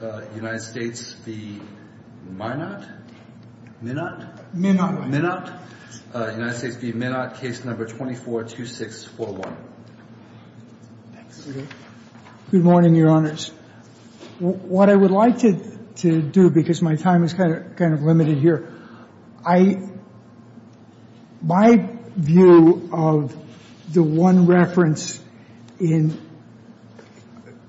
Minott, United States v. Minott, case number 242641. Good morning, your honors. What I would like to do, because my time is kind of limited here, I, my view of the one reference in,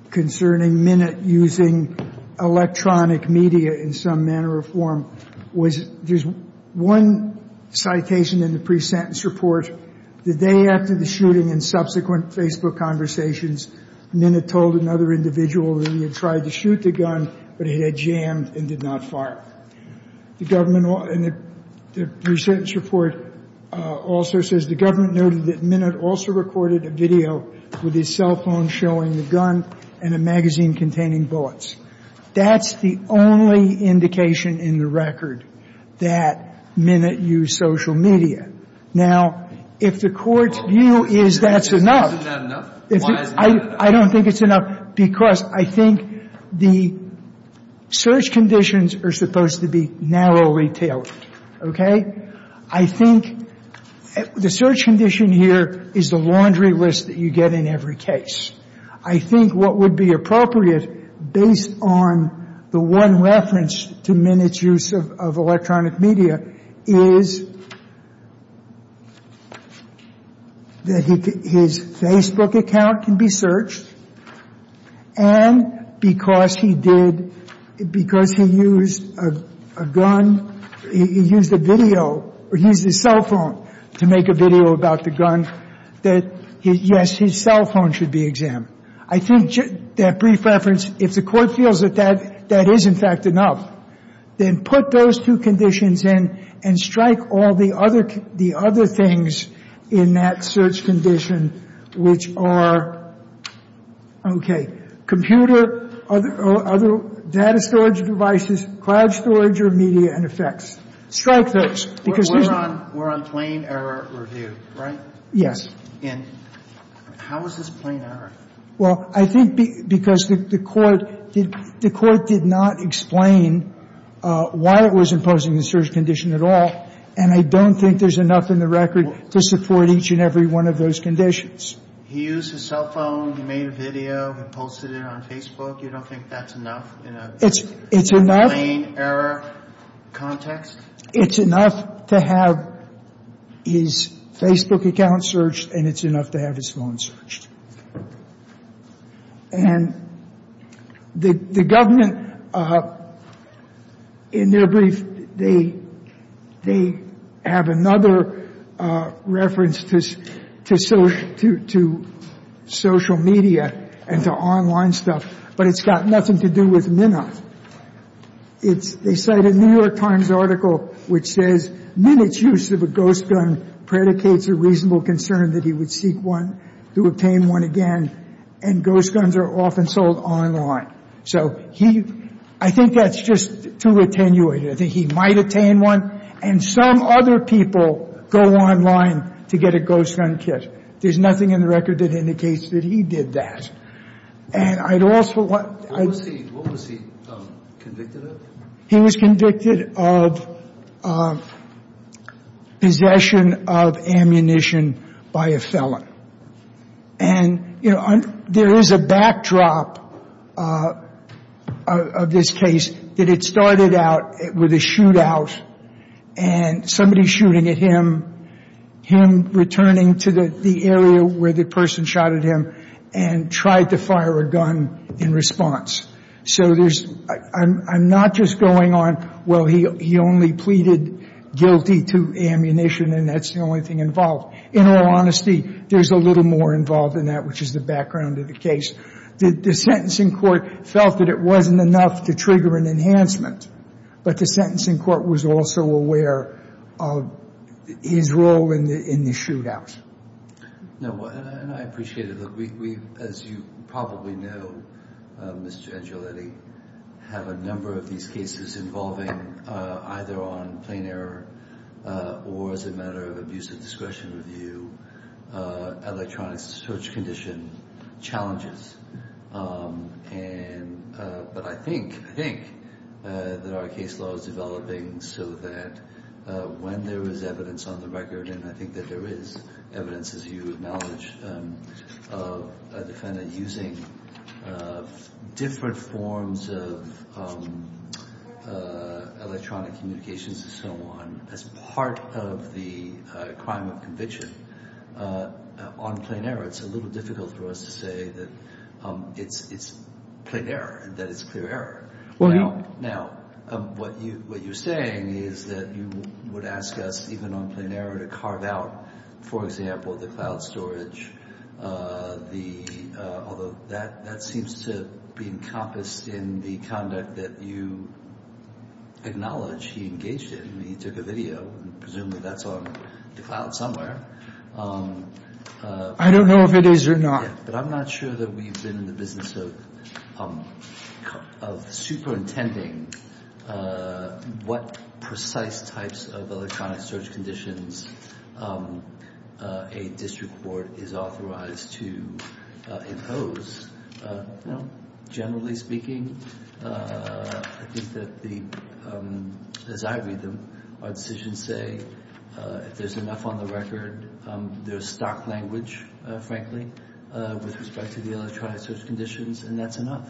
concerning Minott using electronic media in some manner or form was, there's one citation in the pre-sentence report, the day after the shooting and subsequent Facebook conversations, Minott told another individual that he had tried to shoot the gun, but it had jammed and did not fire. The government, in the pre-sentence report, also says the government noted that Minott also recorded a video with his cell phone showing the gun and a magazine containing bullets. That's the only indication in the record that Minott used social media. Now, if the Court's view is that's enough. Isn't that enough? Why isn't that enough? I don't think it's enough because I think the search conditions are supposed to be narrowly tailored. Okay? I think the search condition here is the laundry list that you get in every case. I think what would be appropriate, based on the one reference to Minott's use of electronic media, is that his Facebook account can be searched and because he did, because he used a gun, he used a video, or he used his cell phone to make a video about the gun, that, yes, his cell phone should be examined. I think that brief reference, if the Court feels that that is, in fact, enough, then put those two conditions in and strike all the other things in that search condition, which are, okay, computer or other data storage devices, cloud storage or media and effects. Strike those. Because there's no other. We're on plain error review, right? Yes. And how is this plain error? Well, I think because the Court did not explain why it was imposing the search condition at all. And I don't think there's enough in the record to support each and every one of those conditions. He used his cell phone, he made a video, he posted it on Facebook. You don't think that's enough in a plain error context? It's enough to have his Facebook account searched and it's enough to have his phone searched. And the Government, in their brief, they have another reference to social media and to online stuff, but it's got nothing to do with Minna. They cite a New York Times article which says, Minna's use of a ghost gun predicates a reasonable concern that he would seek one, to obtain one again, and ghost guns are often sold online. So he – I think that's just too attenuated. I think he might attain one and some other people go online to get a ghost gun kit. There's nothing in the record that indicates that he did that. And I'd also want – What was he convicted of? He was convicted of possession of ammunition by a felon. And, you know, there is a backdrop of this case that it started out with a shootout and somebody shooting at him, him returning to the area where the person shot at him and tried to fire a gun in response. So there's – I'm not just going on, well, he only pleaded guilty to ammunition and that's the only thing involved. In all honesty, there's a little more involved in that, which is the background of the case. The sentencing court felt that it wasn't enough to trigger an enhancement, but the sentencing court was also aware of his role in the shootout. No, and I appreciate it. As you probably know, Mr. Angeletti, have a number of these cases involving either on plain error or as a matter of abuse of discretion review electronic search condition challenges. And – but I think, I think that our case law is developing so that when there is evidence on the record, and I think that there is evidence, as you acknowledge, of a defendant using different forms of electronic communications and so on as part of the crime of conviction on plain error, it's a little difficult for us to say that it's plain error, that it's clear error. Now, what you're saying is that you would ask us, even on plain error, to carve out, for example, the cloud storage. The – although that seems to be encompassed in the conduct that you acknowledge he engaged in. I mean, he took a video. Presumably that's on the cloud somewhere. I don't know if it is or not. Yeah, but I'm not sure that we've been in the business of superintending what precise types of electronic search conditions a district court is authorized to impose. You know, generally speaking, I think that the – as I read them, our decisions say, if there's enough on the record, there's stock language, frankly, with respect to the electronic search conditions, and that's enough.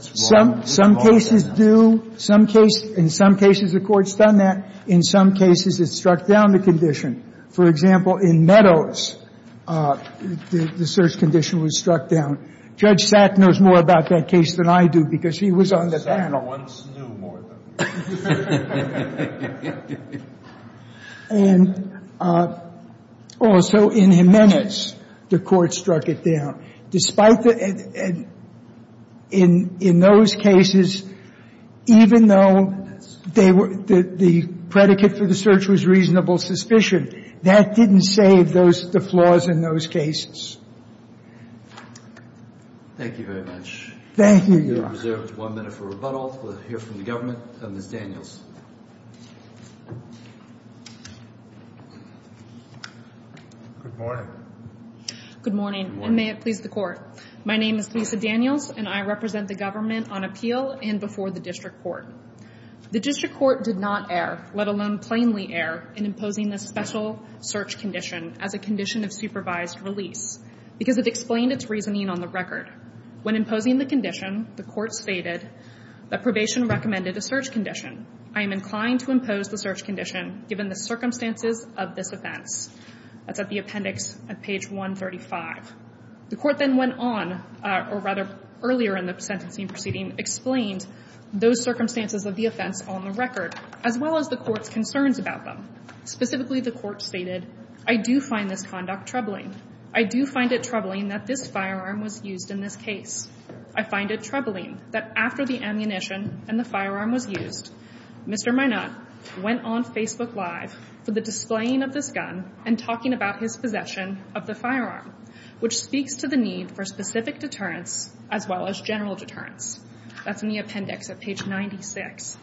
Some cases do. In some cases, the Court's done that. In some cases, it's struck down the condition. For example, in Meadows, the search condition was struck down. Judge Sack knows more about that case than I do because he was on the panel. And also in Jimenez, the Court struck it down. Despite the – in those cases, even though they were – the predicate for the search was reasonable suspicion, that didn't save those – the flaws in those cases. Thank you very much. Thank you, Your Honor. We have reserved one minute for rebuttal. We'll hear from the government. Ms. Daniels. Good morning. Good morning, and may it please the Court. My name is Lisa Daniels, and I represent the government on appeal and before the district court. The district court did not err, let alone plainly err, in imposing this special search condition as a condition of supervised release because it explained its reasoning on the record. When imposing the condition, the Court stated that probation recommended a search condition. I am inclined to impose the search condition given the circumstances of this offense. That's at the appendix at page 135. The Court then went on, or rather earlier in the sentencing proceeding, explained those circumstances of the offense on the record, as well as the Court's concerns about them. Specifically, the Court stated, I do find this conduct troubling. I do find it troubling that this firearm was used in this case. I find it troubling that after the ammunition and the firearm was used, Mr. Minot went on Facebook Live for the displaying of this gun and talking about his possession of the firearm, which speaks to the need for specific deterrence as well as general deterrence. That's in the appendix at page 96.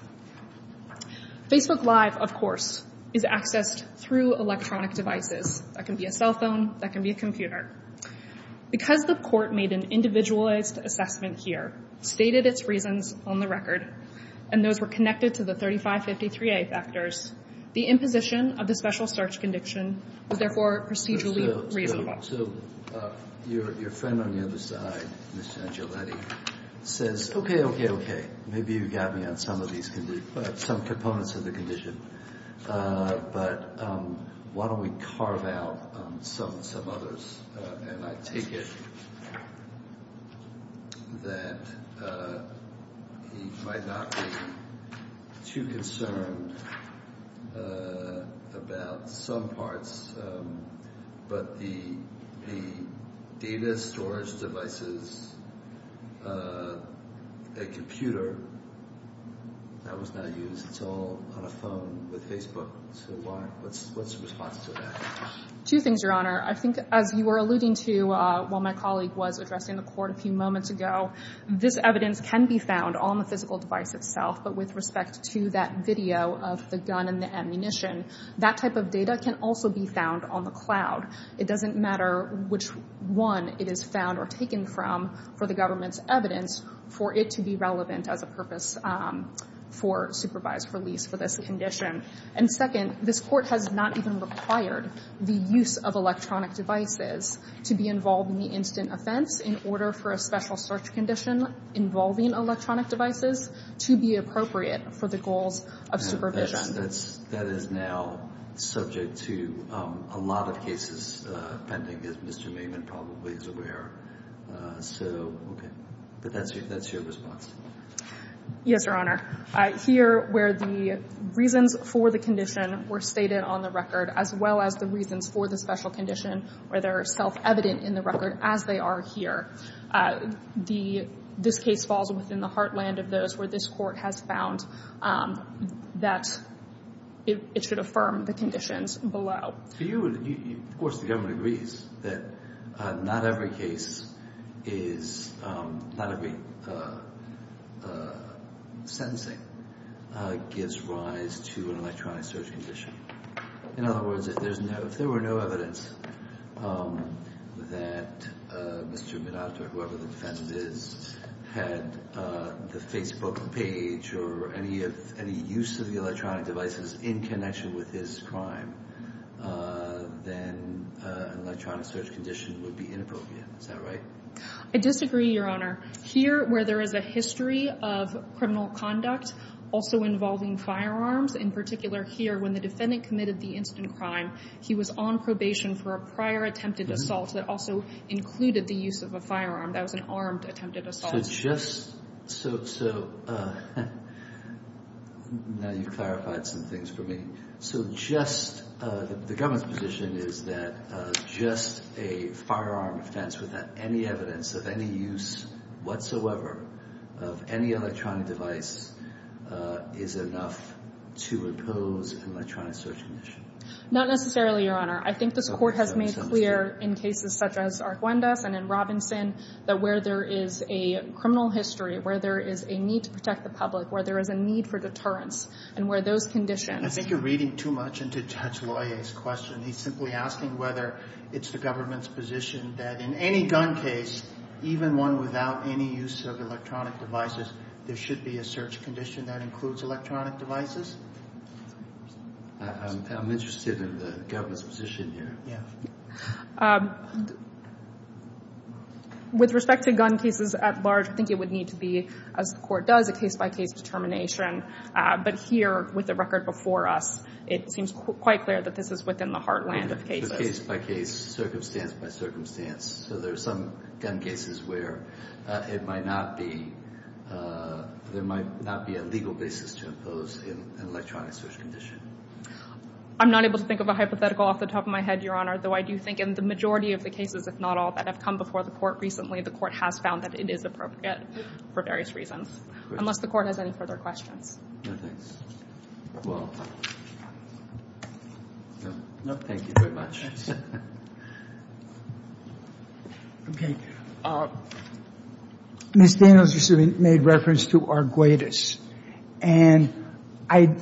Facebook Live, of course, is accessed through electronic devices. That can be a cell phone. That can be a computer. Because the Court made an individualized assessment here, stated its reasons on the record, and those were connected to the 3553A factors, the imposition of the special search condition was therefore procedurally reasonable. So your friend on the other side, Ms. Ciancioletti, says, okay, okay, okay, maybe you got me on some of these conditions, some components of the condition, but why don't we carve out some others? And I take it that he might not be too concerned about some parts, but the data storage devices, a computer that was not used, it's all on a phone with Facebook, so what's the response to that? Two things, Your Honor. I think as you were alluding to while my colleague was addressing the Court a few moments ago, this evidence can be found on the physical device itself, but with respect to that video of the gun and the ammunition, that type of data can also be found on the cloud. It doesn't matter which one it is found or taken from for the government's evidence for it to be relevant as a purpose for supervised release for this condition. And second, this Court has not even required the use of electronic devices to be involved in the incident offense in order for a special search condition involving electronic devices to be appropriate for the goals of supervision. That is now subject to a lot of cases pending, as Mr. Maiman probably is aware. But that's your response. Yes, Your Honor. Here where the reasons for the condition were stated on the record, as well as the reasons for the special condition, where they're self-evident in the record as they are here, this case falls within the heartland of those where this Court has found that it should affirm the conditions below. Of course, the government agrees that not every case is, not every sentencing gives rise to an electronic search condition. In other words, if there were no evidence that Mr. Minata or whoever the defendant is had the Facebook page or any use of the electronic devices in connection with his crime, then an electronic search condition would be inappropriate. Is that right? I disagree, Your Honor. Here where there is a history of criminal conduct also involving firearms, in particular here when the defendant committed the incident crime, he was on probation for a prior attempted assault that also included the use of a firearm. That was an armed attempted assault. So just so now you've clarified some things for me. So just the government's position is that just a firearm offense without any evidence of any use whatsoever of any electronic device is enough to impose an electronic search condition. Not necessarily, Your Honor. I think this Court has made clear in cases such as Arjuendas and in Robinson that where there is a criminal history, where there is a need to protect the public, where there is a need for deterrence, and where those conditions. I think you're reading too much into Judge Loyer's question. He's simply asking whether it's the government's position that in any gun case, even one without any use of electronic devices, there should be a search condition that includes electronic devices. I'm interested in the government's position here. With respect to gun cases at large, I think it would need to be, as the Court does, a case-by-case determination. But here, with the record before us, it seems quite clear that this is within the heartland of cases. Case-by-case, circumstance-by-circumstance. So there are some gun cases where there might not be a legal basis to impose an electronic search condition. I'm not able to think of a hypothetical off the top of my head, Your Honor, though I do think in the majority of the cases, if not all that have come before the Court recently, the Court has found that it is appropriate for various reasons. Unless the Court has any further questions. No, thanks. Well, thank you very much. Okay. Ms. Daniels recently made reference to Arguedas. And I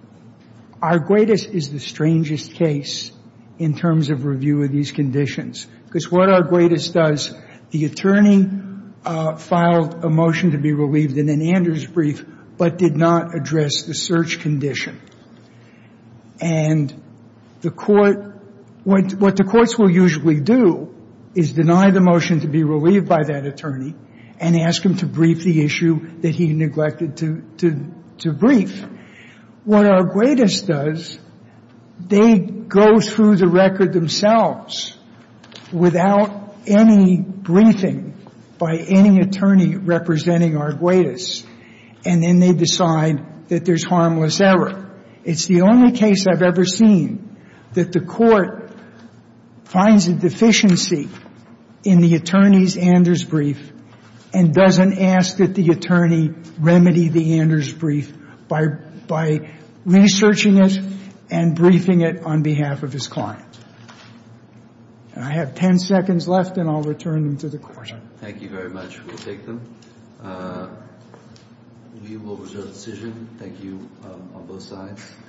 — Arguedas is the strangest case in terms of review of these conditions. Because what Arguedas does, the attorney filed a motion to be relieved in an Anders brief, but did not address the search condition. And the Court — what the courts will usually do is deny the motion to be relieved by that attorney and ask him to brief the issue that he neglected to brief. What Arguedas does, they go through the record themselves without any briefing by any attorney representing Arguedas. And then they decide that there's harmless error. It's the only case I've ever seen that the Court finds a deficiency in the attorney's Anders brief and doesn't ask that the attorney remedy the Anders brief by researching it and briefing it on behalf of his client. And I have 10 seconds left, and I'll return them to the Court. Thank you very much. We'll take them. We will reserve the decision. Thank you on both sides.